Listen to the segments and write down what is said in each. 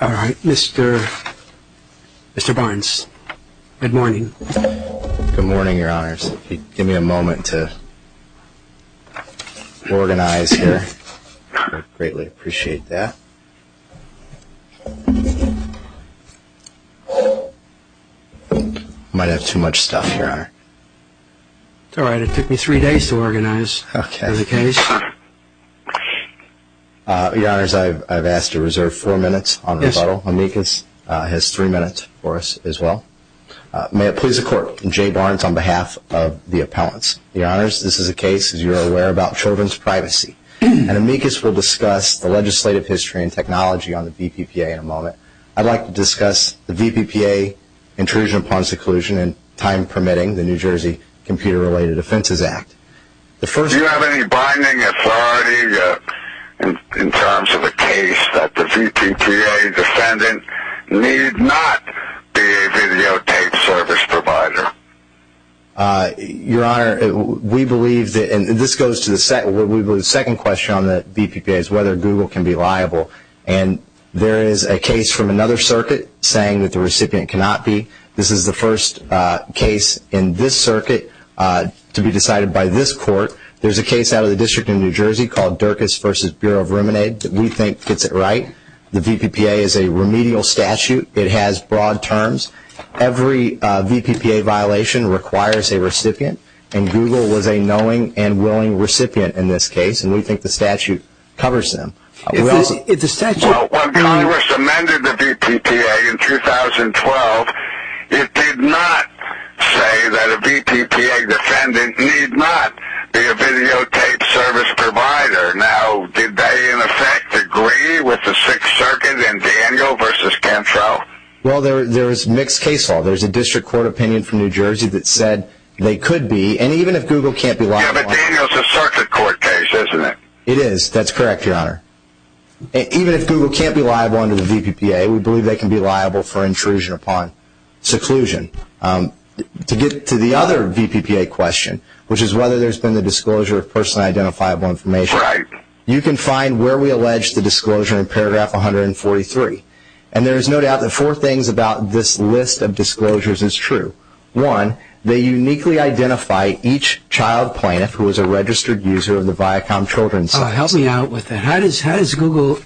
Alright, Mr. Barnes. Good morning. Good morning, Your Honors. Give me a moment to organize here. I greatly appreciate that. I might have too much stuff, Your Honor. It's alright, it took me three days to organize the case. Your Honors, I've asked to reserve four minutes on rebuttal. Amicus has three minutes for us as well. May it please the Court, I'm Jay Barnes on behalf of the appellants. Your Honors, this is a case, as you are aware, about children's privacy and Amicus will discuss the legislative history and technology on the VPPA in a moment. I'd like to discuss the VPPA intrusion upon seclusion and, time permitting, the New Jersey Computer-Related Offenses Act. Do you have any binding authority in terms of the case that the VPPA defendant need not be a videotape service provider? Your Honor, we believe that, and this goes to the second question on the VPPA, is whether Google can be liable. And there is a case from another circuit to be decided by this Court. There's a case out of the District of New Jersey called Dirkus v. Bureau of Ruminate that we think gets it right. The VPPA is a remedial statute. It has broad terms. Every VPPA violation requires a recipient, and Google was a knowing and willing recipient in this case, and we think the statute covers them. Well, when Congress amended the VPPA in 2012, it did not say that a VPPA defendant need not be a videotape service provider. Now, did they, in effect, agree with the Sixth Circuit in Daniel v. Cantrell? Well, there is mixed case law. There's a District Court opinion from New Jersey that said they could be, and even if Google can't be liable... Yeah, but Daniel's a Circuit Court case, isn't it? It is. That's correct, Your Honor. Even if Google can't be liable under the VPPA, we believe they can be liable for intrusion upon seclusion. To get to the other VPPA question, which is whether there's been the disclosure of person identifiable information, you can find where we allege the disclosure in paragraph 143. And there is no doubt that four things about this list of disclosures is true. One, they uniquely identify each child plaintiff who is a registered user of the Viacom children's services. Help me out with that. How does Google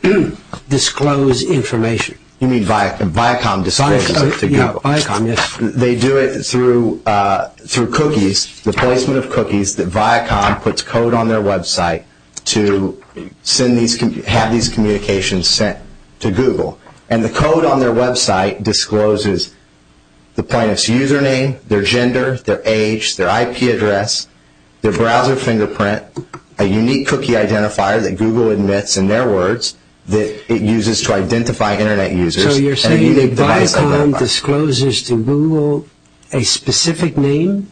disclose information? You mean Viacom discloses it to Google? Viacom, yes. They do it through cookies, the placement of cookies that Viacom puts code on their website to have these communications sent to Google. And the code on their website discloses the plaintiff's username, their gender, their age, their IP address, their browser fingerprint, a unique cookie identifier that Google admits in their words that it uses to identify Internet users. So you're saying that Viacom discloses to Google a specific name?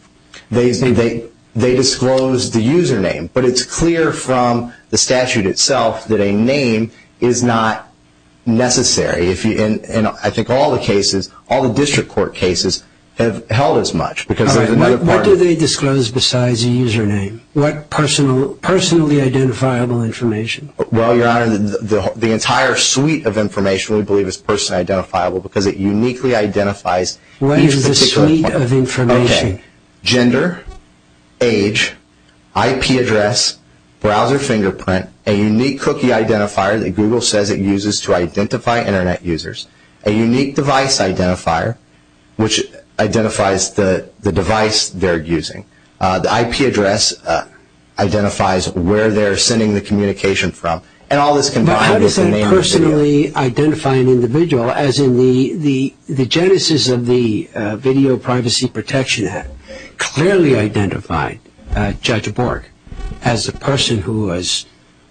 They disclose the username. But it's clear from the statute itself that a name is not necessary. And I think all the cases, all the district court cases have held as much. All right. What do they disclose besides a username? What personally identifiable information? Well, Your Honor, the entire suite of information we believe is personally identifiable because it uniquely identifies each particular... What is the suite of information? Okay. Gender, age, IP address, browser fingerprint, a unique cookie identifier that Google says it uses to identify Internet users, a unique device identifier, which identifies the device they're using, the IP address identifies where they're sending the communication from, and all this combined is the name of the video. But how does that personally identify an individual? As in the genesis of the Video Privacy Protection Act clearly identified Judge Bork as the person who was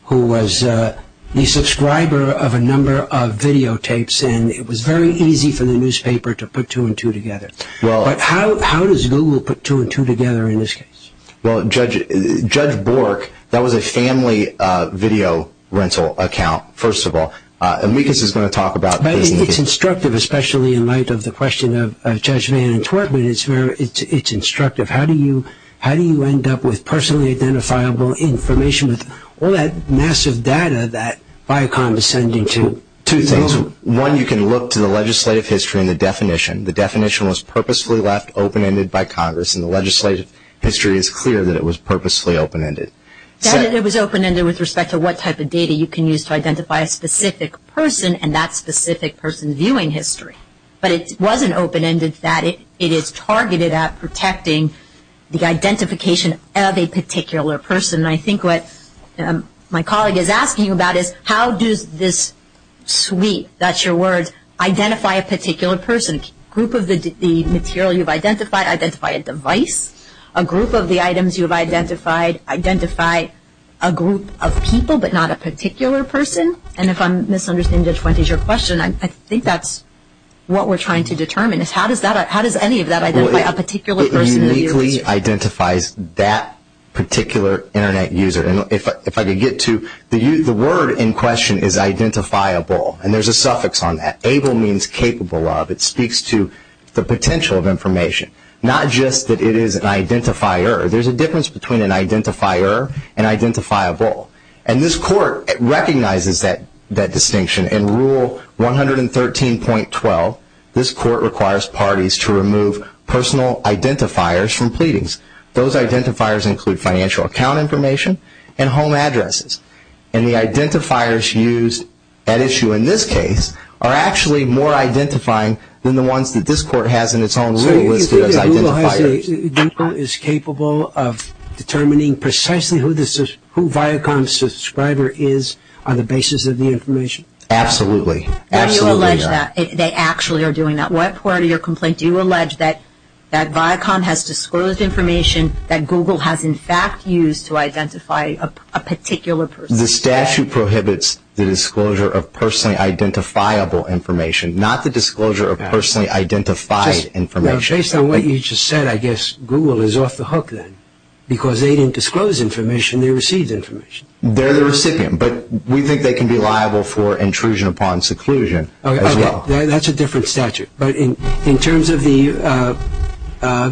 the subscriber of a number of videotapes and it was very easy for the newspaper to put two and two together. Well... But how does Google put two and two together in this case? Well, Judge Bork, that was a family video rental account, first of all. And Mikas is going to talk about... But it's instructive, especially in light of the question of Judge Vann and Twertman, it's very... it's instructive. How do you end up with personally identifiable information with all that massive data that Viacom is sending to two things? Well, one, you can look to the legislative history and the definition. The definition was purposefully left open-ended by Congress and the legislative history is clear that it was purposefully open-ended. That it was open-ended with respect to what type of data you can use to identify a specific person and that specific person's viewing history. But it wasn't open-ended that it targeted at protecting the identification of a particular person. I think what my colleague is asking about is how does this suite, that's your words, identify a particular person? A group of the material you've identified, identify a device? A group of the items you've identified, identify a group of people but not a particular person? And if I'm misunderstanding, Judge Wentz, is your question, I think that's what we're trying to determine is how does any of that identify a particular person? It uniquely identifies that particular internet user. And if I could get to... the word in question is identifiable and there's a suffix on that. Able means capable of. It speaks to the potential of information. Not just that it is an identifier. There's a difference between an identifier and identifiable. And this court recognizes that distinction in Rule 113.12. This court requires parties to remove personal identifiers from pleadings. Those identifiers include financial account information and home addresses. And the identifiers used at issue in this case are actually more identifying than the ones that this court has in its own suit listed as identifiers. So you think that Google is capable of determining precisely who Viacom's subscriber is on the basis of the information? Absolutely. Now you allege that. They actually are doing that. What part of your complaint do you allege that Viacom has disclosed information that Google has in fact used to identify a particular person? The statute prohibits the disclosure of personally identifiable information. Not the disclosure of personally identified information. Just based on what you just said, I guess Google is off the hook then. Because they didn't disclose information, they received information. They're the recipient. But we think they can be liable for intrusion upon seclusion as well. Okay. That's a different statute. But in terms of the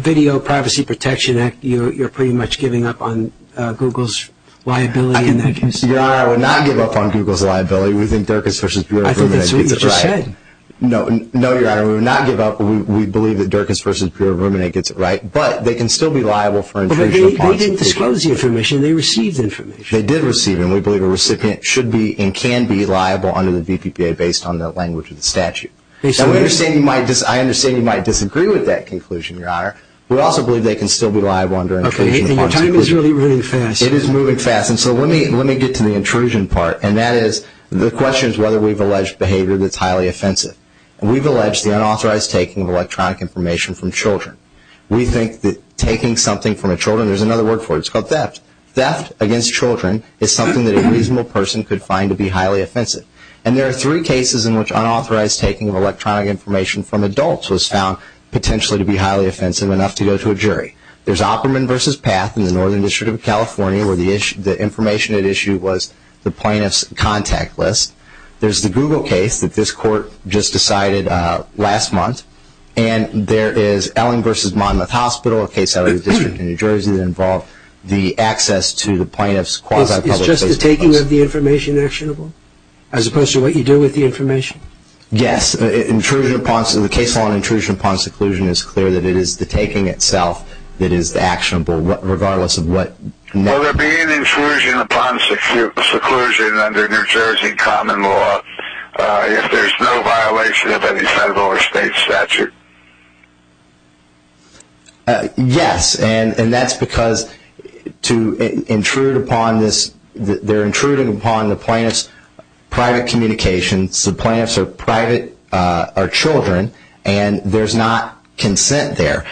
Video Privacy Protection Act, you're pretty much giving up on Google's liability in that case. Your Honor, I would not give up on Google's liability. We think Dirkus v. Bureau of Ruminate gets it right. I think that's what you just said. No. No, Your Honor. We would not give up. We believe that Dirkus v. Bureau of Ruminate gets it right. But they can still be liable for intrusion upon seclusion. But they didn't disclose the information. They received information. They did receive it. And we believe a recipient should be and can be liable under the VPPA based on the language of the statute. I understand you might disagree with that conclusion, Your Honor. We also believe they can still be liable under intrusion upon seclusion. Okay. Your time is really, really fast. It is moving fast. And so let me get to the intrusion part. And that is, the question is whether we've alleged behavior that's highly offensive. And we've alleged the unauthorized taking of electronic information from children. We think that taking something there's another word for it. It's called theft. Theft against children is something that a reasonable person could find to be highly offensive. And there are three cases in which unauthorized taking of electronic information from adults was found potentially to be highly offensive enough to go to a jury. There's Opperman v. Path in the Northern District of California where the information at issue was the plaintiff's contact list. There's the Google case that this court just decided last month. And there is Elling v. Monmouth Hospital, a case out of the New Jersey that involved the access to the plaintiff's quasi-public place. It's just the taking of the information actionable? As opposed to what you do with the information? Yes. Intrusion upon, the case on intrusion upon seclusion is clear that it is the taking itself that is actionable regardless of what. Will there be an intrusion upon seclusion under New Jersey common law if there's no violation of any federal or state statute? Yes. And that's because to intrude upon this, they're intruding upon the plaintiff's private communications. The plaintiff's are private, are children, and there's not consent there.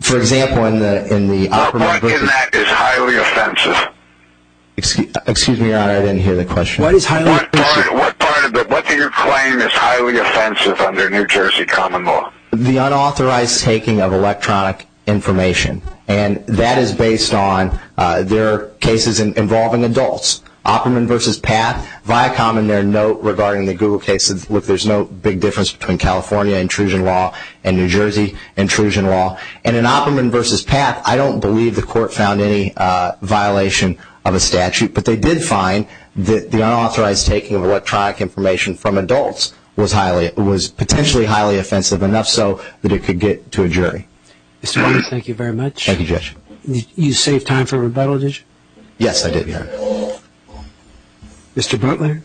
For example, in the Opperman v. What part in that is highly offensive? Excuse me, Your Honor, I didn't hear the question. What is highly offensive? What part of it, what do you claim is highly offensive under New Jersey common law? The unauthorized taking of electronic information. And that is based on, there are cases involving adults. Opperman v. PATH, Viacom in their note regarding the Google cases, look, there's no big difference between California intrusion law and New Jersey intrusion law. And in Opperman v. PATH, I don't believe the court found any violation of a statute, but they did find that the unauthorized taking of electronic information from adults was potentially highly offensive, enough so that it could get to a jury. Mr. Butler, thank you very much. Thank you, Judge. You save time for rebuttal, did you? Yes, I did, Your Honor. Mr. Butler?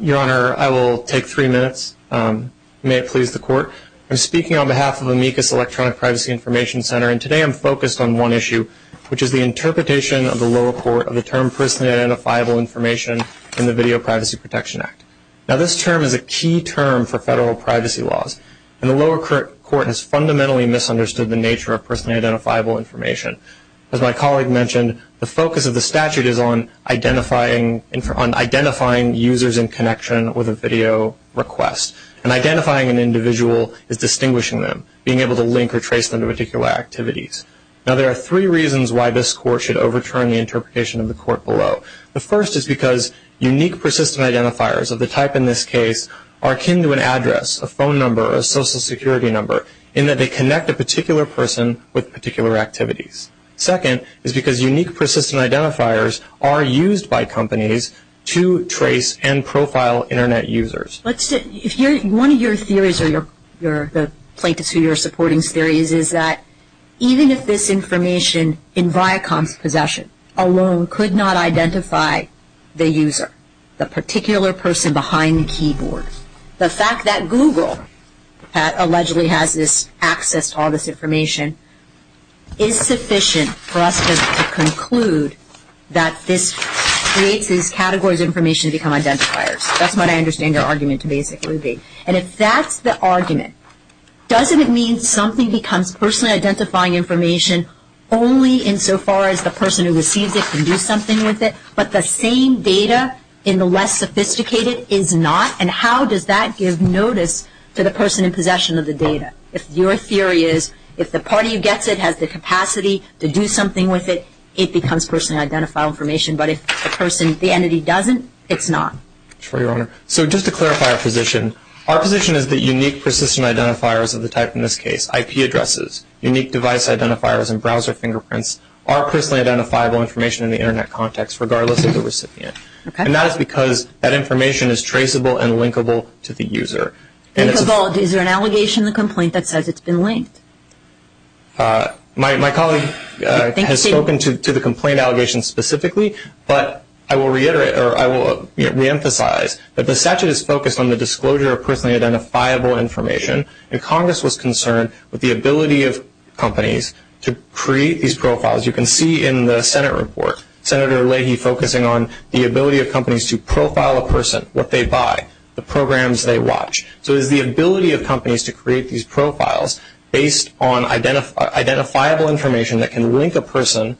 Your Honor, I will take three minutes. May it please the court? I'm speaking on behalf of Amicus Electronic Privacy Information Center, and today I'm focused on one issue, which is the interpretation of the lower court of the term personally identifiable information in the Video Privacy Protection Act. Now, this term is a key term for federal privacy laws, and the lower court has fundamentally misunderstood the nature of personally identifiable information. As my colleague mentioned, the focus of the statute is on identifying users in connection with a video request. And identifying an user, being able to link or trace them to particular activities. Now, there are three reasons why this court should overturn the interpretation of the court below. The first is because unique persistent identifiers of the type in this case are akin to an address, a phone number, a social security number, in that they connect a particular person with particular activities. Second is because unique persistent identifiers are used by companies to trace and profile Internet users. One of your theories, or the plaintiffs who you're supporting's theories, is that even if this information in Viacom's possession alone could not identify the user, the particular person behind the keyboard, the fact that Google allegedly has this access to all this information is sufficient for us to conclude that this creates these categories of identifiers. That's what I understand your argument to basically be. And if that's the argument, doesn't it mean something becomes personally identifying information only insofar as the person who receives it can do something with it, but the same data in the less sophisticated is not? And how does that give notice to the person in possession of the data? If your theory is, if the party who gets it has the capacity to do something with it, it becomes personally identifiable information. But if the entity doesn't, it's not. Sure, Your Honor. So just to clarify our position, our position is that unique persistent identifiers of the type in this case, IP addresses, unique device identifiers and browser fingerprints, are personally identifiable information in the Internet context, regardless of the recipient. And that is because that information is traceable and linkable to the user. Linkable. Is there an allegation in the complaint that says it's been linked? My colleague has spoken to the complaint allegation specifically, but I will reiterate or I will reemphasize that the statute is focused on the disclosure of personally identifiable information, and Congress was concerned with the ability of companies to create these profiles. You can see in the Senate report, Senator Leahy focusing on the ability of companies to profile a person, what they buy, the programs they watch. So it's the ability of companies based on identifiable information that can link a person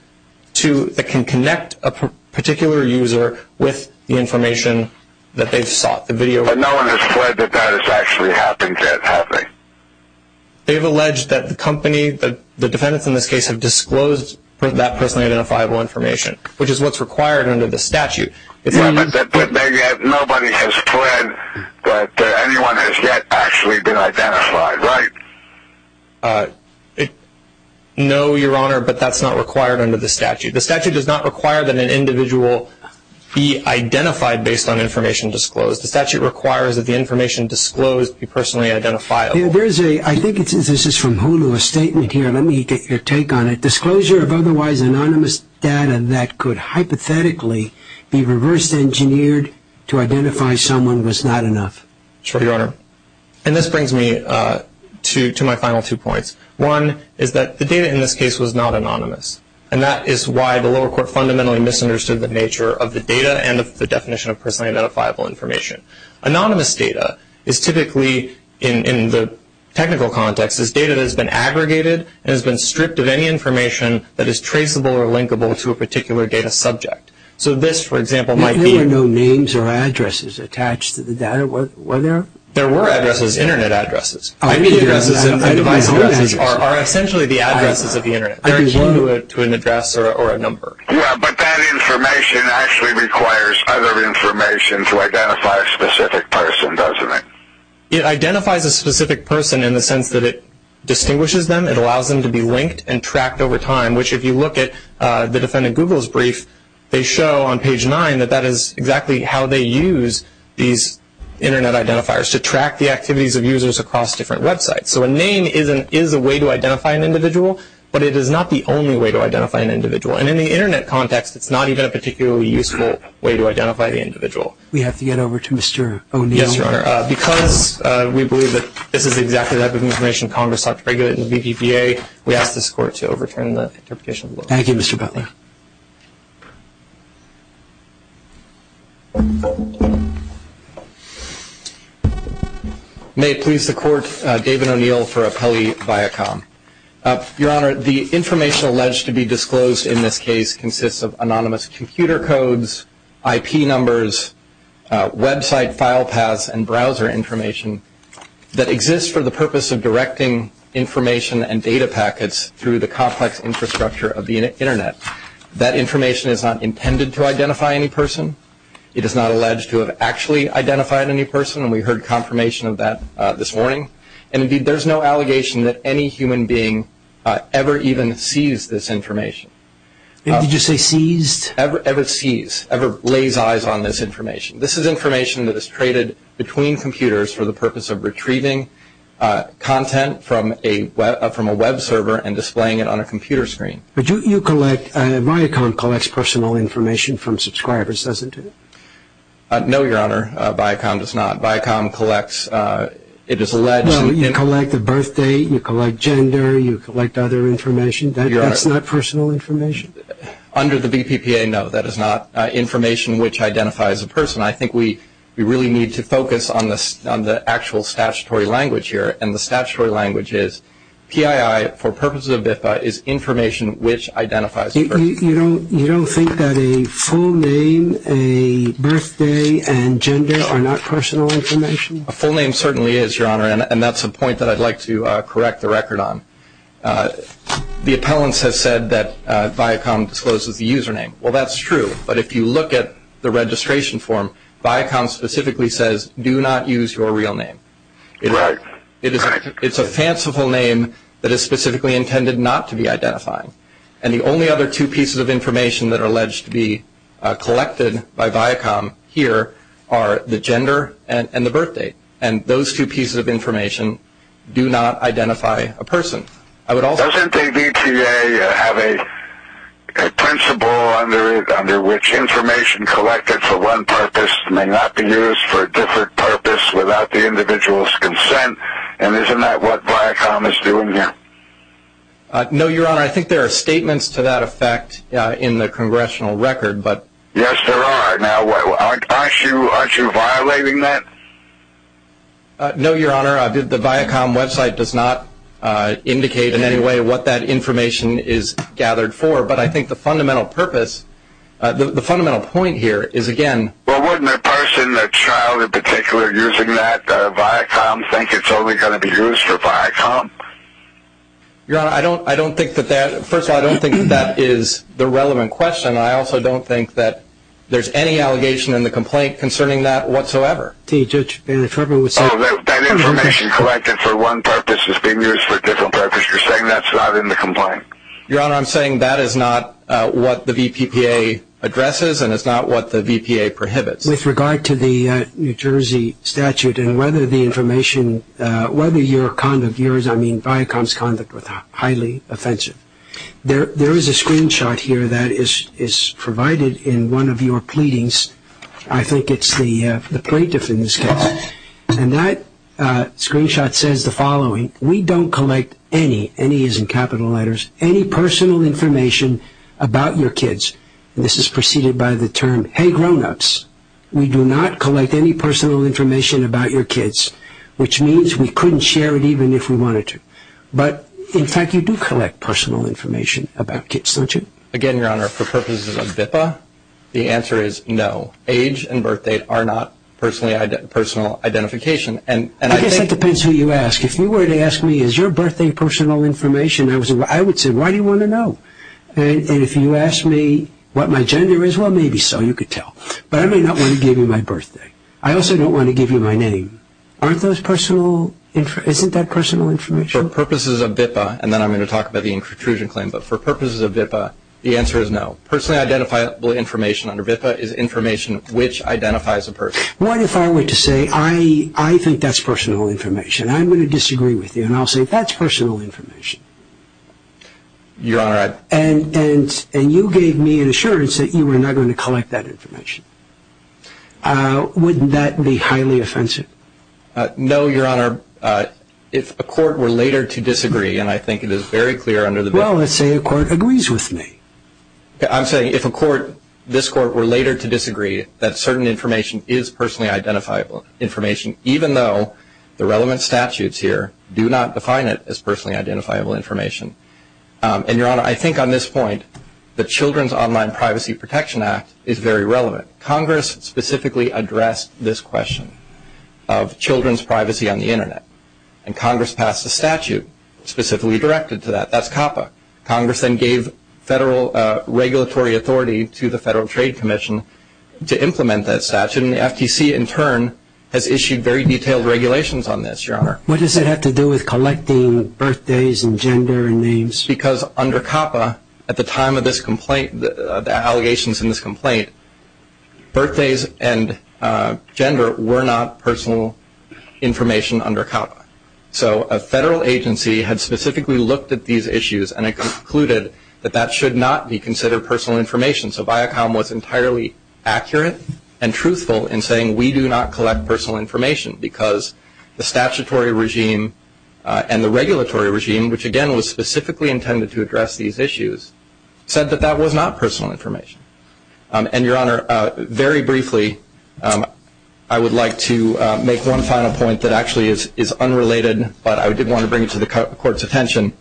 to, that can connect a particular user with the information that they've sought. But no one has pledged that that has actually happened yet, have they? They've alleged that the company, the defendants in this case, have disclosed that personally identifiable information, which is what's required under the statute. But nobody has pledged that anyone has yet actually been identified, right? No, Your Honor, but that's not required under the statute. The statute does not require that an individual be identified based on information disclosed. The statute requires that the information disclosed be personally identifiable. I think this is from Hulu, a statement here. Let me get your take on it. That could hypothetically be reverse engineered to identify someone was not enough. Sure, Your Honor. And this brings me to my final two points. One is that the data in this case was not anonymous. And that is why the lower court fundamentally misunderstood the nature of the data and of the definition of personally identifiable information. Anonymous data is typically, in the technical context, is data that has been aggregated and has been stripped of any information that is traceable or linkable to a particular data subject. So this, for example, might be There were no names or addresses attached to the data, were there? There were addresses, Internet addresses. I mean addresses and device addresses are essentially the addresses of the Internet. There is one to an address or a number. Yeah, but that information actually requires other information to identify a specific person, doesn't it? It identifies a specific person in the sense that it distinguishes them, it allows them to be linked and tracked over time, which if you look at the defendant Google's brief, they show on page 9 that that is exactly how they use these Internet identifiers to track the activities of users across different websites. So a name is a way to identify an individual, but it is not the only way to identify an individual. And in the Internet context, it's not even a particularly useful way to identify the individual. We have to get over to Mr. O'Neill. Yes, Your Honor. Because we believe that this is exactly the type of information Congress ought to regulate in the VPPA, we ask this Court to overturn the interpretation of the law. Thank you, Mr. Butler. May it please the Court, David O'Neill for Appellee Viacom. Your Honor, the information alleged to be disclosed in this case consists of anonymous computer codes, IP numbers, website file paths and browser information that exists for the purpose of directing information and data packets through the complex infrastructure of the Internet. That information is not intended to identify any person. It is not alleged to have actually identified any person, and we heard confirmation of that this morning. And indeed, there's no allegation that any human being ever even sees this information. Did you say seized? Ever sees, ever lays eyes on this information. This is information that is traded between computers for the purpose of retrieving content from a Web server and displaying it on a computer screen. But you collect, Viacom collects personal information from subscribers, doesn't it? No, Your Honor, Viacom does not. Viacom collects, it is alleged. Well, you collect the birth date, you collect gender, you collect other information. That's not personal information? Under the BPPA, no, that is not information which identifies a person. I think we really need to focus on the actual statutory language here, and the statutory language is PII for purposes of BIFA is information which identifies a person. You don't think that a full name, a birth date and gender are not personal information? A full name certainly is, Your Honor, and that's a point that I'd like to correct the record on. The appellants have said that Viacom discloses the username. Well, that's true, but if you look at the registration form, Viacom specifically says do not use your real name. Right. It's a fanciful name that is specifically intended not to be identified, and the only other two pieces of information that are alleged to be collected by Viacom here are the gender and the birth date, and those two pieces of information do not identify a person. Doesn't the BPA have a principle under which information collected for one purpose may not be used for a different purpose without the individual's consent, and isn't that what Viacom is doing here? No, Your Honor, I think there are statements to that effect in the congressional record. Yes, there are. Now, aren't you violating that? No, Your Honor, the Viacom website does not indicate in any way what that information is gathered for, but I think the fundamental purpose, the fundamental point here is, again. Well, wouldn't a person, a child in particular, using that Viacom think it's only going to be used for Viacom? Your Honor, I don't think that that, first of all, I don't think that that is the relevant question, and I also don't think that there's any allegation in the complaint concerning that whatsoever. Judge, if I may say. Oh, that information collected for one purpose is being used for a different purpose. You're saying that's not in the complaint? Your Honor, I'm saying that is not what the VPPA addresses and it's not what the VPPA prohibits. With regard to the New Jersey statute and whether the information, whether your conduct, I mean Viacom's conduct was highly offensive. There is a screenshot here that is provided in one of your pleadings. I think it's the plaintiff in this case, and that screenshot says the following. We don't collect any, any as in capital letters, any personal information about your kids. This is preceded by the term, hey, grownups, we do not collect any personal information about your kids, which means we couldn't share it even if we wanted to. But, in fact, you do collect personal information about kids, don't you? Again, Your Honor, for purposes of VIPPA, the answer is no. Age and birthday are not personal identification. I guess that depends who you ask. If you were to ask me is your birthday personal information, I would say why do you want to know? And if you ask me what my gender is, well, maybe so, you could tell. But I may not want to give you my birthday. I also don't want to give you my name. Aren't those personal – isn't that personal information? For purposes of VIPPA, and then I'm going to talk about the intrusion claim, but for purposes of VIPPA, the answer is no. Personally identifiable information under VIPPA is information which identifies a person. What if I were to say I think that's personal information? I'm going to disagree with you, and I'll say that's personal information. Your Honor, I – And you gave me an assurance that you were not going to collect that information. Wouldn't that be highly offensive? No, Your Honor. If a court were later to disagree, and I think it is very clear under the – Well, let's say a court agrees with me. I'm saying if a court – this court were later to disagree, that certain information is personally identifiable information, even though the relevant statutes here do not define it as personally identifiable information. And, Your Honor, I think on this point the Children's Online Privacy Protection Act is very relevant. Congress specifically addressed this question of children's privacy on the Internet, and Congress passed a statute specifically directed to that. That's COPPA. Congress then gave federal regulatory authority to the Federal Trade Commission to implement that statute, and the FTC in turn has issued very detailed regulations on this, Your Honor. What does it have to do with collecting birthdays and gender and names? Because under COPPA, at the time of this complaint, the allegations in this complaint, birthdays and gender were not personal information under COPPA. So a federal agency had specifically looked at these issues and had concluded that that should not be considered personal information. So Viacom was entirely accurate and truthful in saying we do not collect personal information because the statutory regime and the regulatory regime, which again was specifically intended to address these issues, said that that was not personal information. And, Your Honor, very briefly, I would like to make one final point that actually is unrelated, but I did want to bring it to the Court's attention.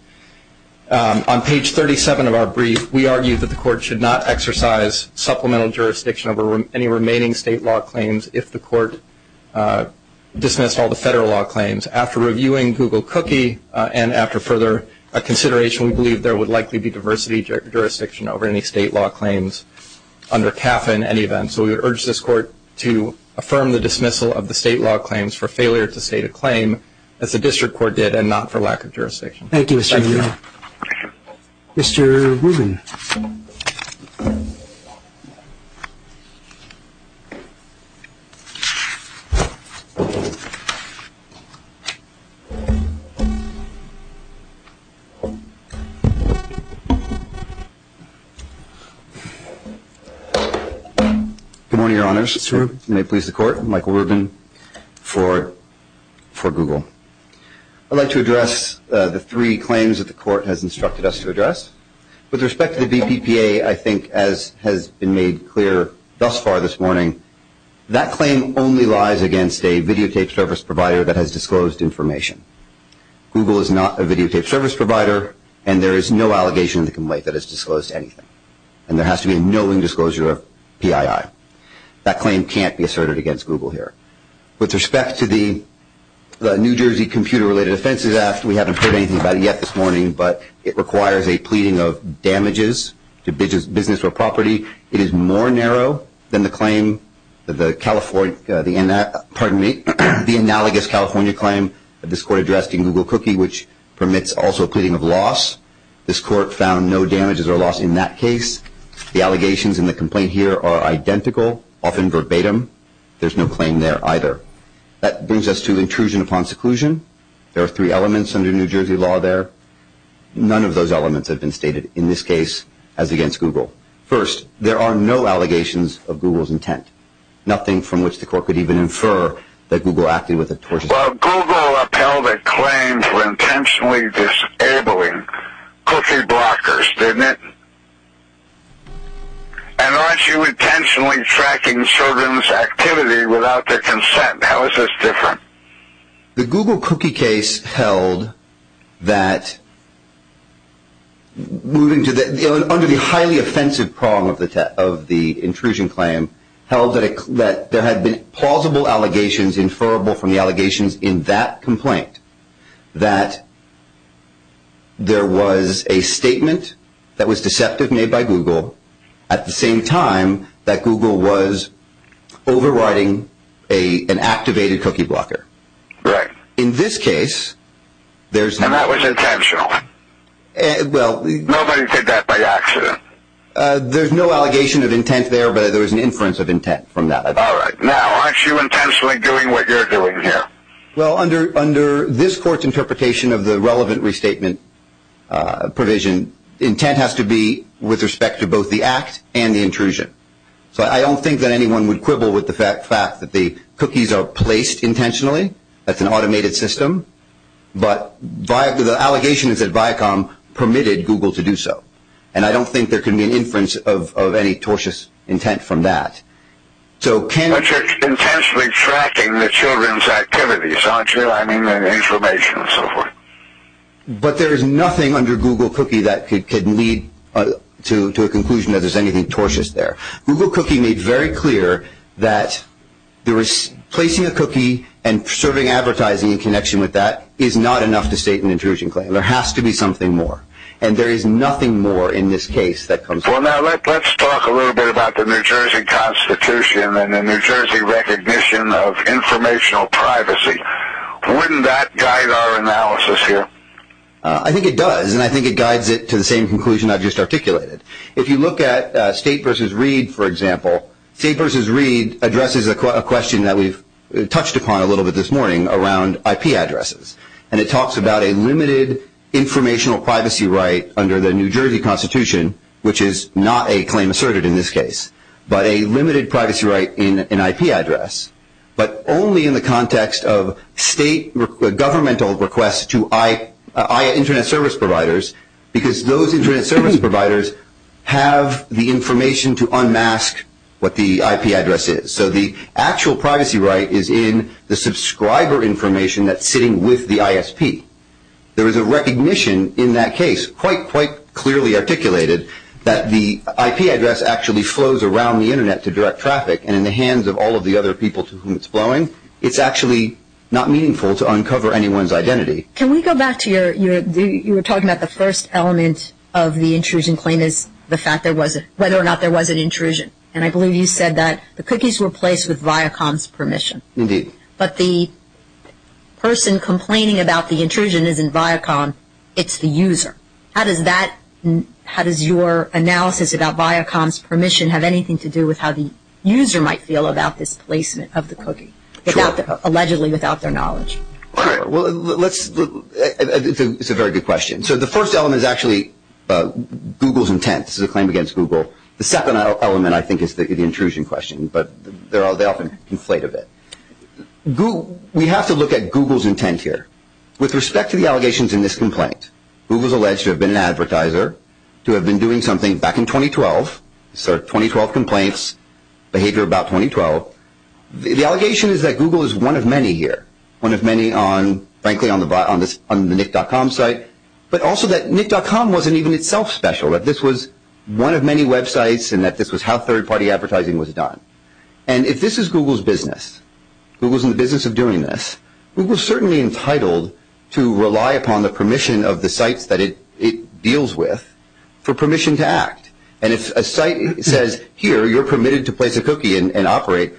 On page 37 of our brief, we argue that the Court should not exercise supplemental jurisdiction over any remaining state law claims if the Court dismissed all the federal law claims. After reviewing Google Cookie and after further consideration, we believe there would likely be diversity of jurisdiction over any state law claims under CAPPA in any event. So we would urge this Court to affirm the dismissal of the state law claims for failure to state a claim, as the District Court did, and not for lack of jurisdiction. Thank you, Mr. Mueller. Mr. Rubin. Good morning, Your Honors. Mr. Rubin. May it please the Court, Michael Rubin for Google. I'd like to address the three claims that the Court has instructed us to address. With respect to the BPPA, I think as has been made clear thus far this morning, that claim only lies against a videotaped service provider that has disclosed information. Google is not a videotaped service provider, and there is no allegation of the complaint that has disclosed anything. And there has to be a knowing disclosure of PII. That claim can't be asserted against Google here. With respect to the New Jersey Computer-Related Offenses Act, we haven't heard anything about it yet this morning, but it requires a pleading of damages to business or property. It is more narrow than the analogous California claim that this Court addressed in Google Cookie, which permits also a pleading of loss. This Court found no damages or loss in that case. The allegations in the complaint here are identical, often verbatim. There's no claim there either. That brings us to intrusion upon seclusion. There are three elements under New Jersey law there. None of those elements have been stated in this case as against Google. First, there are no allegations of Google's intent. Nothing from which the Court could even infer that Google acted with a tortuous intent. Well, Google upheld a claim for intentionally disabling cookie blockers, didn't it? And aren't you intentionally tracking children's activity without their consent? How is this different? The Google Cookie case held that, under the highly offensive prong of the intrusion claim, held that there had been plausible allegations inferable from the allegations in that complaint, that there was a statement that was deceptive made by Google, at the same time that Google was overriding an activated cookie blocker. Right. In this case, there's no... And that was intentional. Well... Nobody did that by accident. There's no allegation of intent there, but there was an inference of intent from that. All right. Now, aren't you intentionally doing what you're doing here? Well, under this Court's interpretation of the relevant restatement provision, intent has to be with respect to both the act and the intrusion. So I don't think that anyone would quibble with the fact that the cookies are placed intentionally. That's an automated system. But the allegations at Viacom permitted Google to do so. And I don't think there can be an inference of any tortious intent from that. But you're intentionally tracking the children's activities, aren't you? I mean, the information and so forth. But there is nothing under Google Cookie that could lead to a conclusion that there's anything tortious there. Google Cookie made very clear that placing a cookie and serving advertising in connection with that is not enough to state an intrusion claim. There has to be something more. And there is nothing more in this case that comes... Well, now let's talk a little bit about the New Jersey Constitution and the New Jersey recognition of informational privacy. Wouldn't that guide our analysis here? I think it does, and I think it guides it to the same conclusion I just articulated. If you look at State v. Reed, for example, State v. Reed addresses a question that we've touched upon a little bit this morning around IP addresses. And it talks about a limited informational privacy right under the New Jersey Constitution, which is not a claim asserted in this case, but a limited privacy right in an IP address, but only in the context of state governmental requests to internet service providers, because those internet service providers have the information to unmask what the IP address is. So the actual privacy right is in the subscriber information that's sitting with the ISP. There is a recognition in that case, quite clearly articulated, that the IP address actually flows around the internet to direct traffic, and in the hands of all of the other people to whom it's flowing, it's actually not meaningful to uncover anyone's identity. Can we go back to your... you were talking about the first element of the intrusion claim is whether or not there was an intrusion. And I believe you said that the cookies were placed with Viacom's permission. Indeed. But the person complaining about the intrusion isn't Viacom, it's the user. How does that... how does your analysis about Viacom's permission have anything to do with how the user might feel about this placement of the cookie, allegedly without their knowledge? All right. Well, let's... it's a very good question. So the first element is actually Google's intent. This is a claim against Google. The second element, I think, is the intrusion question, but they often conflate a bit. We have to look at Google's intent here. With respect to the allegations in this complaint, Google's alleged to have been an advertiser, to have been doing something back in 2012, so 2012 complaints, behavior about 2012. The allegation is that Google is one of many here, one of many on, frankly, on the Nick.com site, but also that Nick.com wasn't even itself special, that this was one of many websites and that this was how third-party advertising was done. And if this is Google's business, Google's in the business of doing this, Google's certainly entitled to rely upon the permission of the sites that it deals with for permission to act. And if a site says, here, you're permitted to place a cookie and operate,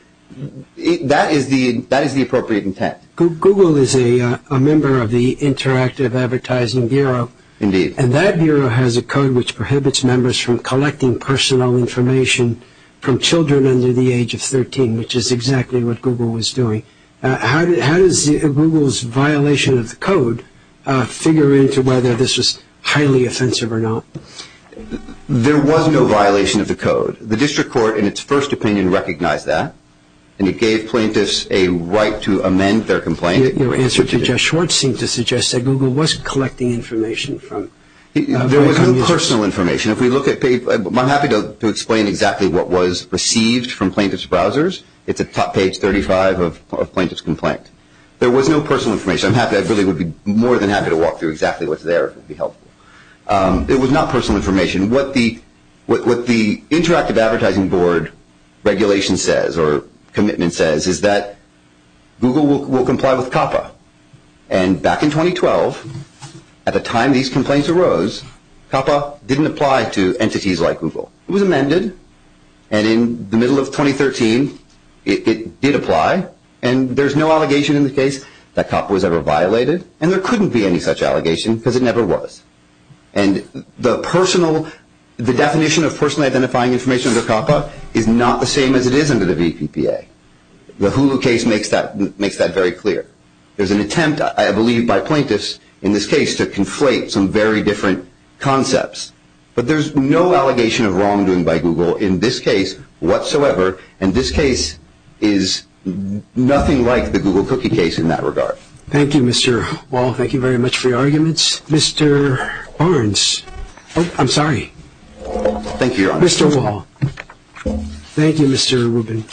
that is the appropriate intent. Google is a member of the Interactive Advertising Bureau. Indeed. And that bureau has a code which prohibits members from collecting personal information from children under the age of 13, which is exactly what Google was doing. How does Google's violation of the code figure into whether this was highly offensive or not? There was no violation of the code. The district court, in its first opinion, recognized that, and it gave plaintiffs a right to amend their complaint. Your answer to Jeff Schwartz seemed to suggest that Google was collecting information. There was no personal information. I'm happy to explain exactly what was received from plaintiff's browsers. It's at top page 35 of a plaintiff's complaint. There was no personal information. I really would be more than happy to walk through exactly what's there if it would be helpful. It was not personal information. What the Interactive Advertising Board regulation says, or commitment says, is that Google will comply with COPPA, and back in 2012, at the time these complaints arose, COPPA didn't apply to entities like Google. It was amended, and in the middle of 2013, it did apply, and there's no allegation in the case that COPPA was ever violated, and there couldn't be any such allegation because it never was. And the definition of personally identifying information under COPPA is not the same as it is under the VPPA. The Hulu case makes that very clear. There's an attempt, I believe, by plaintiffs in this case to conflate some very different concepts, but there's no allegation of wrongdoing by Google in this case whatsoever, and this case is nothing like the Google cookie case in that regard. Thank you, Mr. Wall. Thank you very much for your arguments. Mr. Barnes. Oh, I'm sorry. Thank you, Your Honor. Mr. Wall. Thank you, Mr. Rubin.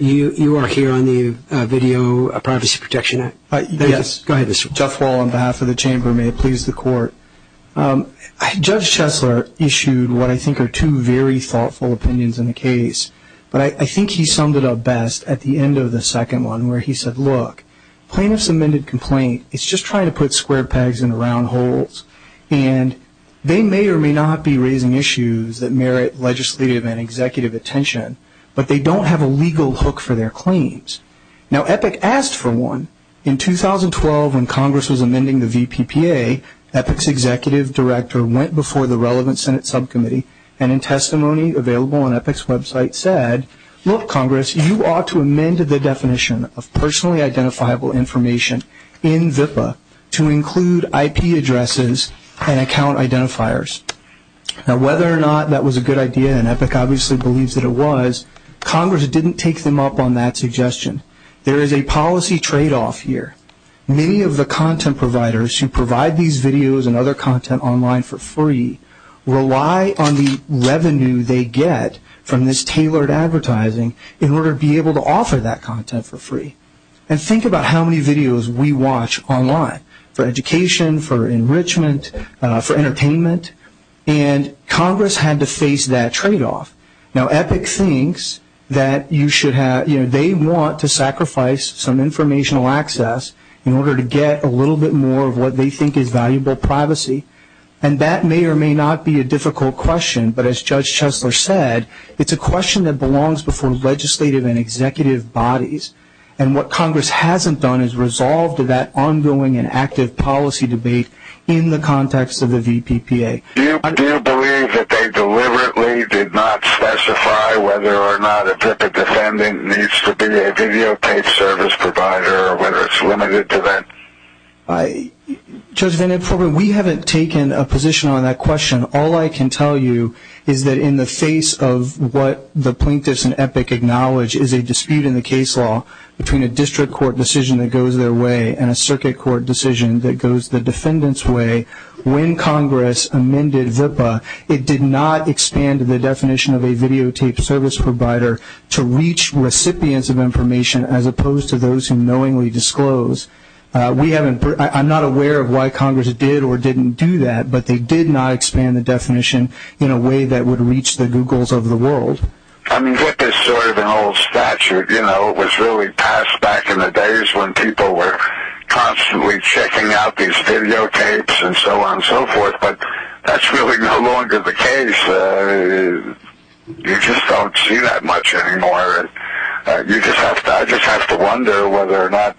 You are here on the video Privacy Protection Act? Yes. Go ahead, Mr. Wall. Jeff Wall on behalf of the Chamber. May it please the Court. Judge Chesler issued what I think are two very thoughtful opinions in the case, but I think he summed it up best at the end of the second one where he said, look, plaintiff's amended complaint is just trying to put square pegs into round holes, and they may or may not be raising issues that merit legislative and executive attention, but they don't have a legal hook for their claims. Now, EPIC asked for one. In 2012 when Congress was amending the VPPA, EPIC's executive director went before the relevant Senate subcommittee and in testimony available on EPIC's website said, look, Congress, you ought to amend the definition of personally identifiable information in VPPA to include IP addresses and account identifiers. Now, whether or not that was a good idea, and EPIC obviously believes that it was, Congress didn't take them up on that suggestion. There is a policy tradeoff here. Many of the content providers who provide these videos and other content online for free rely on the revenue they get from this tailored advertising in order to be able to offer that content for free. And think about how many videos we watch online for education, for enrichment, for entertainment, and Congress had to face that tradeoff. Now, EPIC thinks that you should have, you know, they want to sacrifice some informational access in order to get a little bit more of what they think is valuable privacy, and that may or may not be a difficult question, but as Judge Chesler said, it's a question that belongs before legislative and executive bodies, and what Congress hasn't done is resolved that ongoing and active policy debate in the context of the VPPA. Do you believe that they deliberately did not specify whether or not an EPIC defendant needs to be a videotaped service provider or whether it's limited to that? Judge VandenForp, we haven't taken a position on that question. All I can tell you is that in the face of what the plaintiffs and EPIC acknowledge is a dispute in the case law between a district court decision that goes their way and a circuit court decision that goes the defendant's way, when Congress amended VPPA, it did not expand the definition of a videotaped service provider to reach recipients of information as opposed to those who knowingly disclose. I'm not aware of why Congress did or didn't do that, but they did not expand the definition in a way that would reach the Googles of the world. EPIC is sort of an old statute. It was really passed back in the days when people were constantly checking out these videotapes and so on and so forth, but that's really no longer the case. You just don't see that much anymore. I just have to wonder whether or not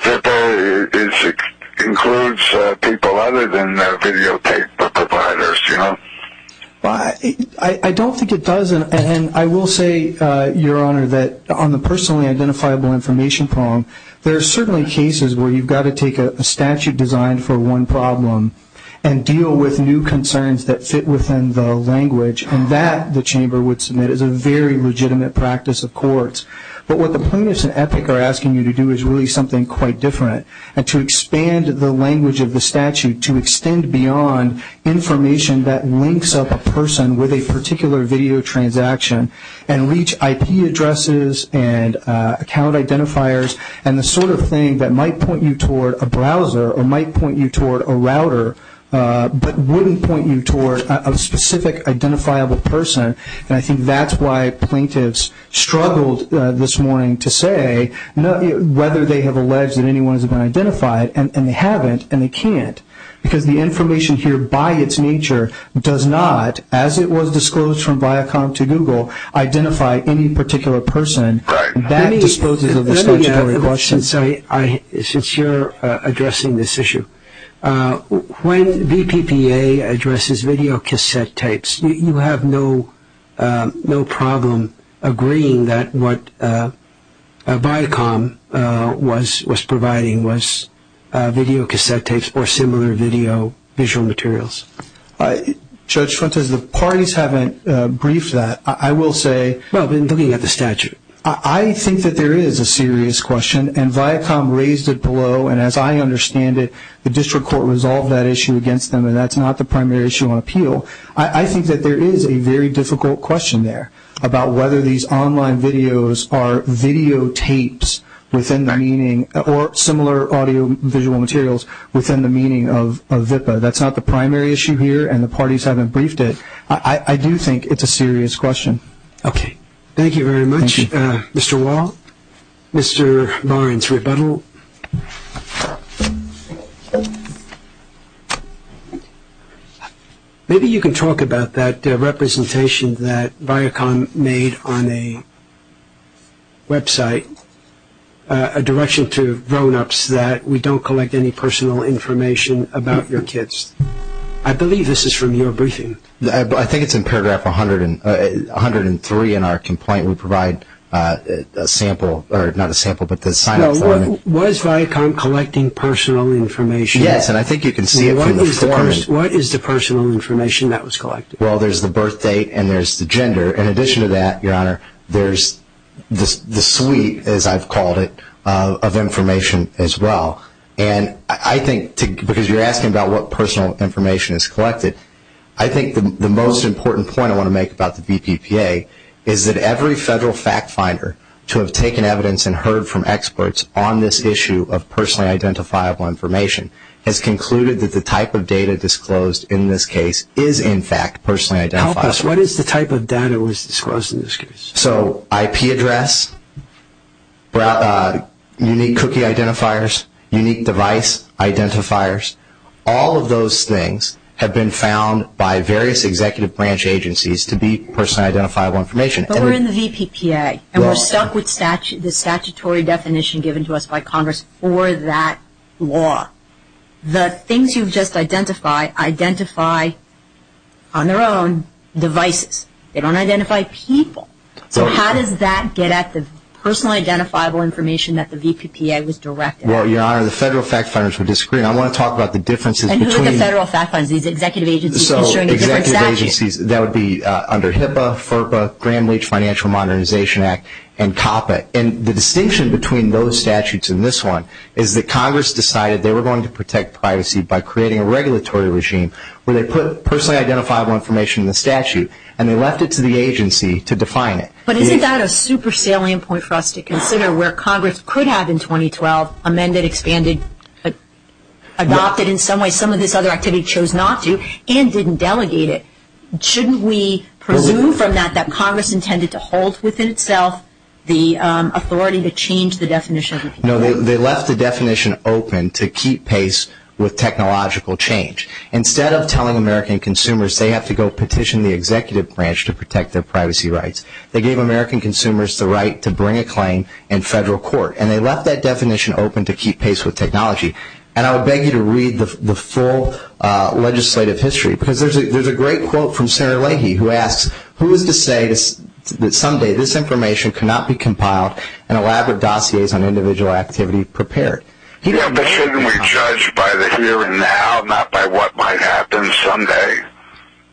VPPA includes people other than videotape providers, you know? I don't think it does, and I will say, Your Honor, that on the personally identifiable information prong, there are certainly cases where you've got to take a statute designed for one problem and deal with new concerns that fit within the language, and that, the Chamber would submit, is a very legitimate practice of courts. But what the plaintiffs in EPIC are asking you to do is really something quite different, and to expand the language of the statute to extend beyond information that links up a person with a particular video transaction and reach IP addresses and account identifiers and the sort of thing that might point you toward a browser or might point you toward a router, but wouldn't point you toward a specific identifiable person, and I think that's why plaintiffs struggled this morning to say whether they have alleged that anyone has been identified, and they haven't, and they can't, because the information here by its nature does not, as it was disclosed from Viacom to Google, identify any particular person. Since you're addressing this issue, when VPPA addresses videocassette tapes, you have no problem agreeing that what Viacom was providing was videocassette tapes or similar video visual materials? Judge Fuentes, the parties haven't briefed that. I will say I think that there is a serious question, and Viacom raised it below, and as I understand it, the district court resolved that issue against them, and that's not the primary issue on appeal. I think that there is a very difficult question there about whether these online videos are videotapes or similar audio visual materials within the meaning of VPPA. That's not the primary issue here, and the parties haven't briefed it. I do think it's a serious question. Okay. Thank you very much, Mr. Wall. Mr. Barnes-Rebuttal, maybe you can talk about that representation that Viacom made on a website, a direction to grownups that we don't collect any personal information about your kids. I believe this is from your briefing. I think it's in paragraph 103 in our complaint. We provide a sample, or not a sample, but the sign-up form. Was Viacom collecting personal information? Yes, and I think you can see it from the form. What is the personal information that was collected? Well, there's the birth date and there's the gender. In addition to that, Your Honor, there's the suite, as I've called it, of information as well. Because you're asking about what personal information is collected, I think the most important point I want to make about the VPPA is that every federal fact finder to have taken evidence and heard from experts on this issue of personally identifiable information has concluded that the type of data disclosed in this case is, in fact, personally identifiable. Help us. What is the type of data that was disclosed in this case? So IP address, unique cookie identifiers, unique device identifiers. All of those things have been found by various executive branch agencies to be personally identifiable information. But we're in the VPPA, and we're stuck with the statutory definition given to us by Congress for that law. The things you've just identified identify on their own devices. They don't identify people. So how does that get at the personally identifiable information that the VPPA was directed at? Well, Your Honor, the federal fact finders would disagree. I want to talk about the differences between... And who are the federal fact finders, these executive agencies issuing a different statute? So executive agencies, that would be under HIPAA, FERPA, Gramm-Leach Financial Modernization Act, and COPPA. And the distinction between those statutes and this one is that Congress decided they were going to protect privacy and they left it to the agency to define it. But isn't that a super salient point for us to consider where Congress could have in 2012 amended, expanded, adopted in some way some of this other activity, chose not to, and didn't delegate it? Shouldn't we presume from that that Congress intended to hold within itself the authority to change the definition? No, they left the definition open to keep pace with technological change. Instead of telling American consumers they have to go petition the executive branch to protect their privacy rights, they gave American consumers the right to bring a claim in federal court. And they left that definition open to keep pace with technology. And I would beg you to read the full legislative history. Because there's a great quote from Sarah Leahy who asks, who is to say that someday this information cannot be compiled and elaborate dossiers on individual activity prepared? Yeah, but shouldn't we judge by the here and now, not by what might happen someday?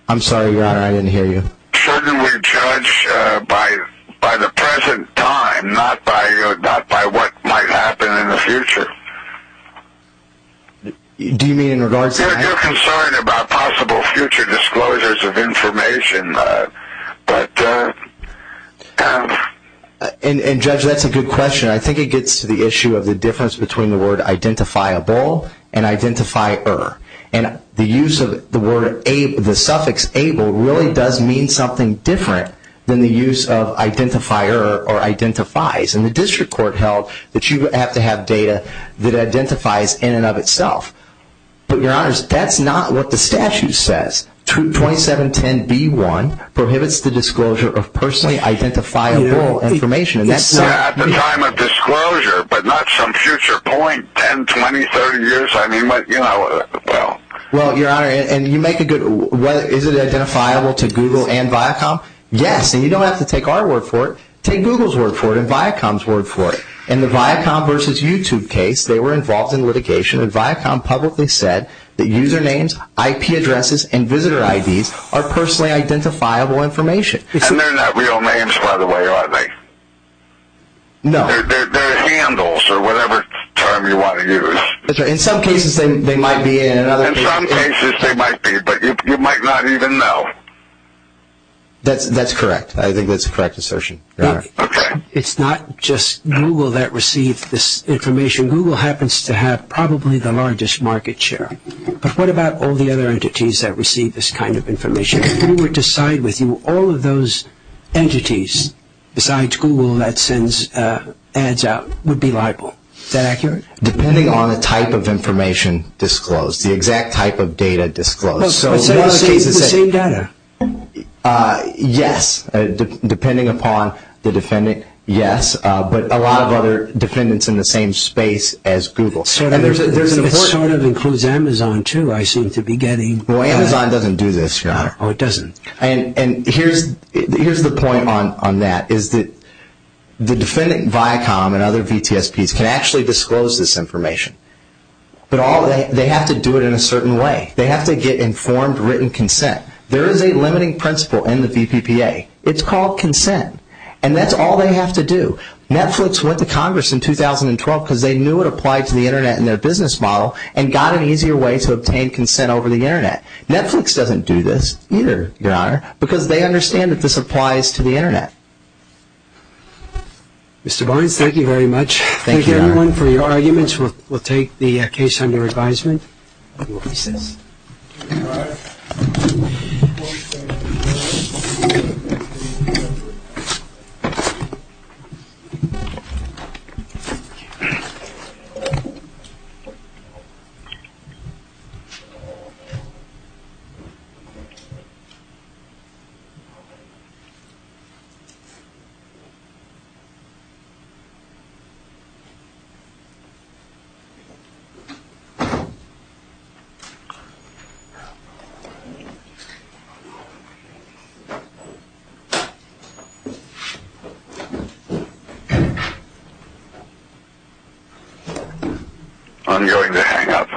I'm sorry, Your Honor, I didn't hear you. Shouldn't we judge by the present time, not by what might happen in the future? Do you mean in regards to that? You're concerned about possible future disclosures of information. And, Judge, that's a good question. I think it gets to the issue of the difference between the word identifiable and identifier. And the use of the suffix able really does mean something different than the use of identifier or identifies. And the district court held that you have to have data that identifies in and of itself. But, Your Honor, that's not what the statute says. 2710B1 prohibits the disclosure of personally identifiable information. Yeah, at the time of disclosure, but not some future point, 10, 20, 30 years. I mean, you know, well. Well, Your Honor, and you make a good, is it identifiable to Google and Viacom? Yes, and you don't have to take our word for it. Take Google's word for it and Viacom's word for it. In the Viacom versus YouTube case, they were involved in litigation, and Viacom publicly said that usernames, IP addresses, and visitor IDs are personally identifiable information. And they're not real names, by the way, are they? No. They're handles or whatever term you want to use. That's right. In some cases, they might be. In some cases, they might be, but you might not even know. That's correct. I think that's a correct assertion, Your Honor. Okay. It's not just Google that receives this information. Google happens to have probably the largest market share. But what about all the other entities that receive this kind of information? If Google were to side with you, all of those entities besides Google that sends ads out would be liable. Is that accurate? Depending on the type of information disclosed, the exact type of data disclosed. So the same data? Yes. Depending upon the defendant, yes. But a lot of other defendants in the same space as Google. It sort of includes Amazon, too, I seem to be getting. Well, Amazon doesn't do this, Your Honor. Oh, it doesn't. And here's the point on that, is that the defendant Viacom and other VTSPs can actually disclose this information. But they have to do it in a certain way. They have to get informed written consent. There is a limiting principle in the VPPA. It's called consent. And that's all they have to do. Netflix went to Congress in 2012 because they knew it applied to the Internet in their business model and got an easier way to obtain consent over the Internet. Netflix doesn't do this either, Your Honor, because they understand that this applies to the Internet. Mr. Barnes, thank you very much. Thank you, Your Honor. Thank you, everyone, for your arguments. We'll take the case under advisement. I'm going to go pee, sis. I'm going to hang up. Thank you.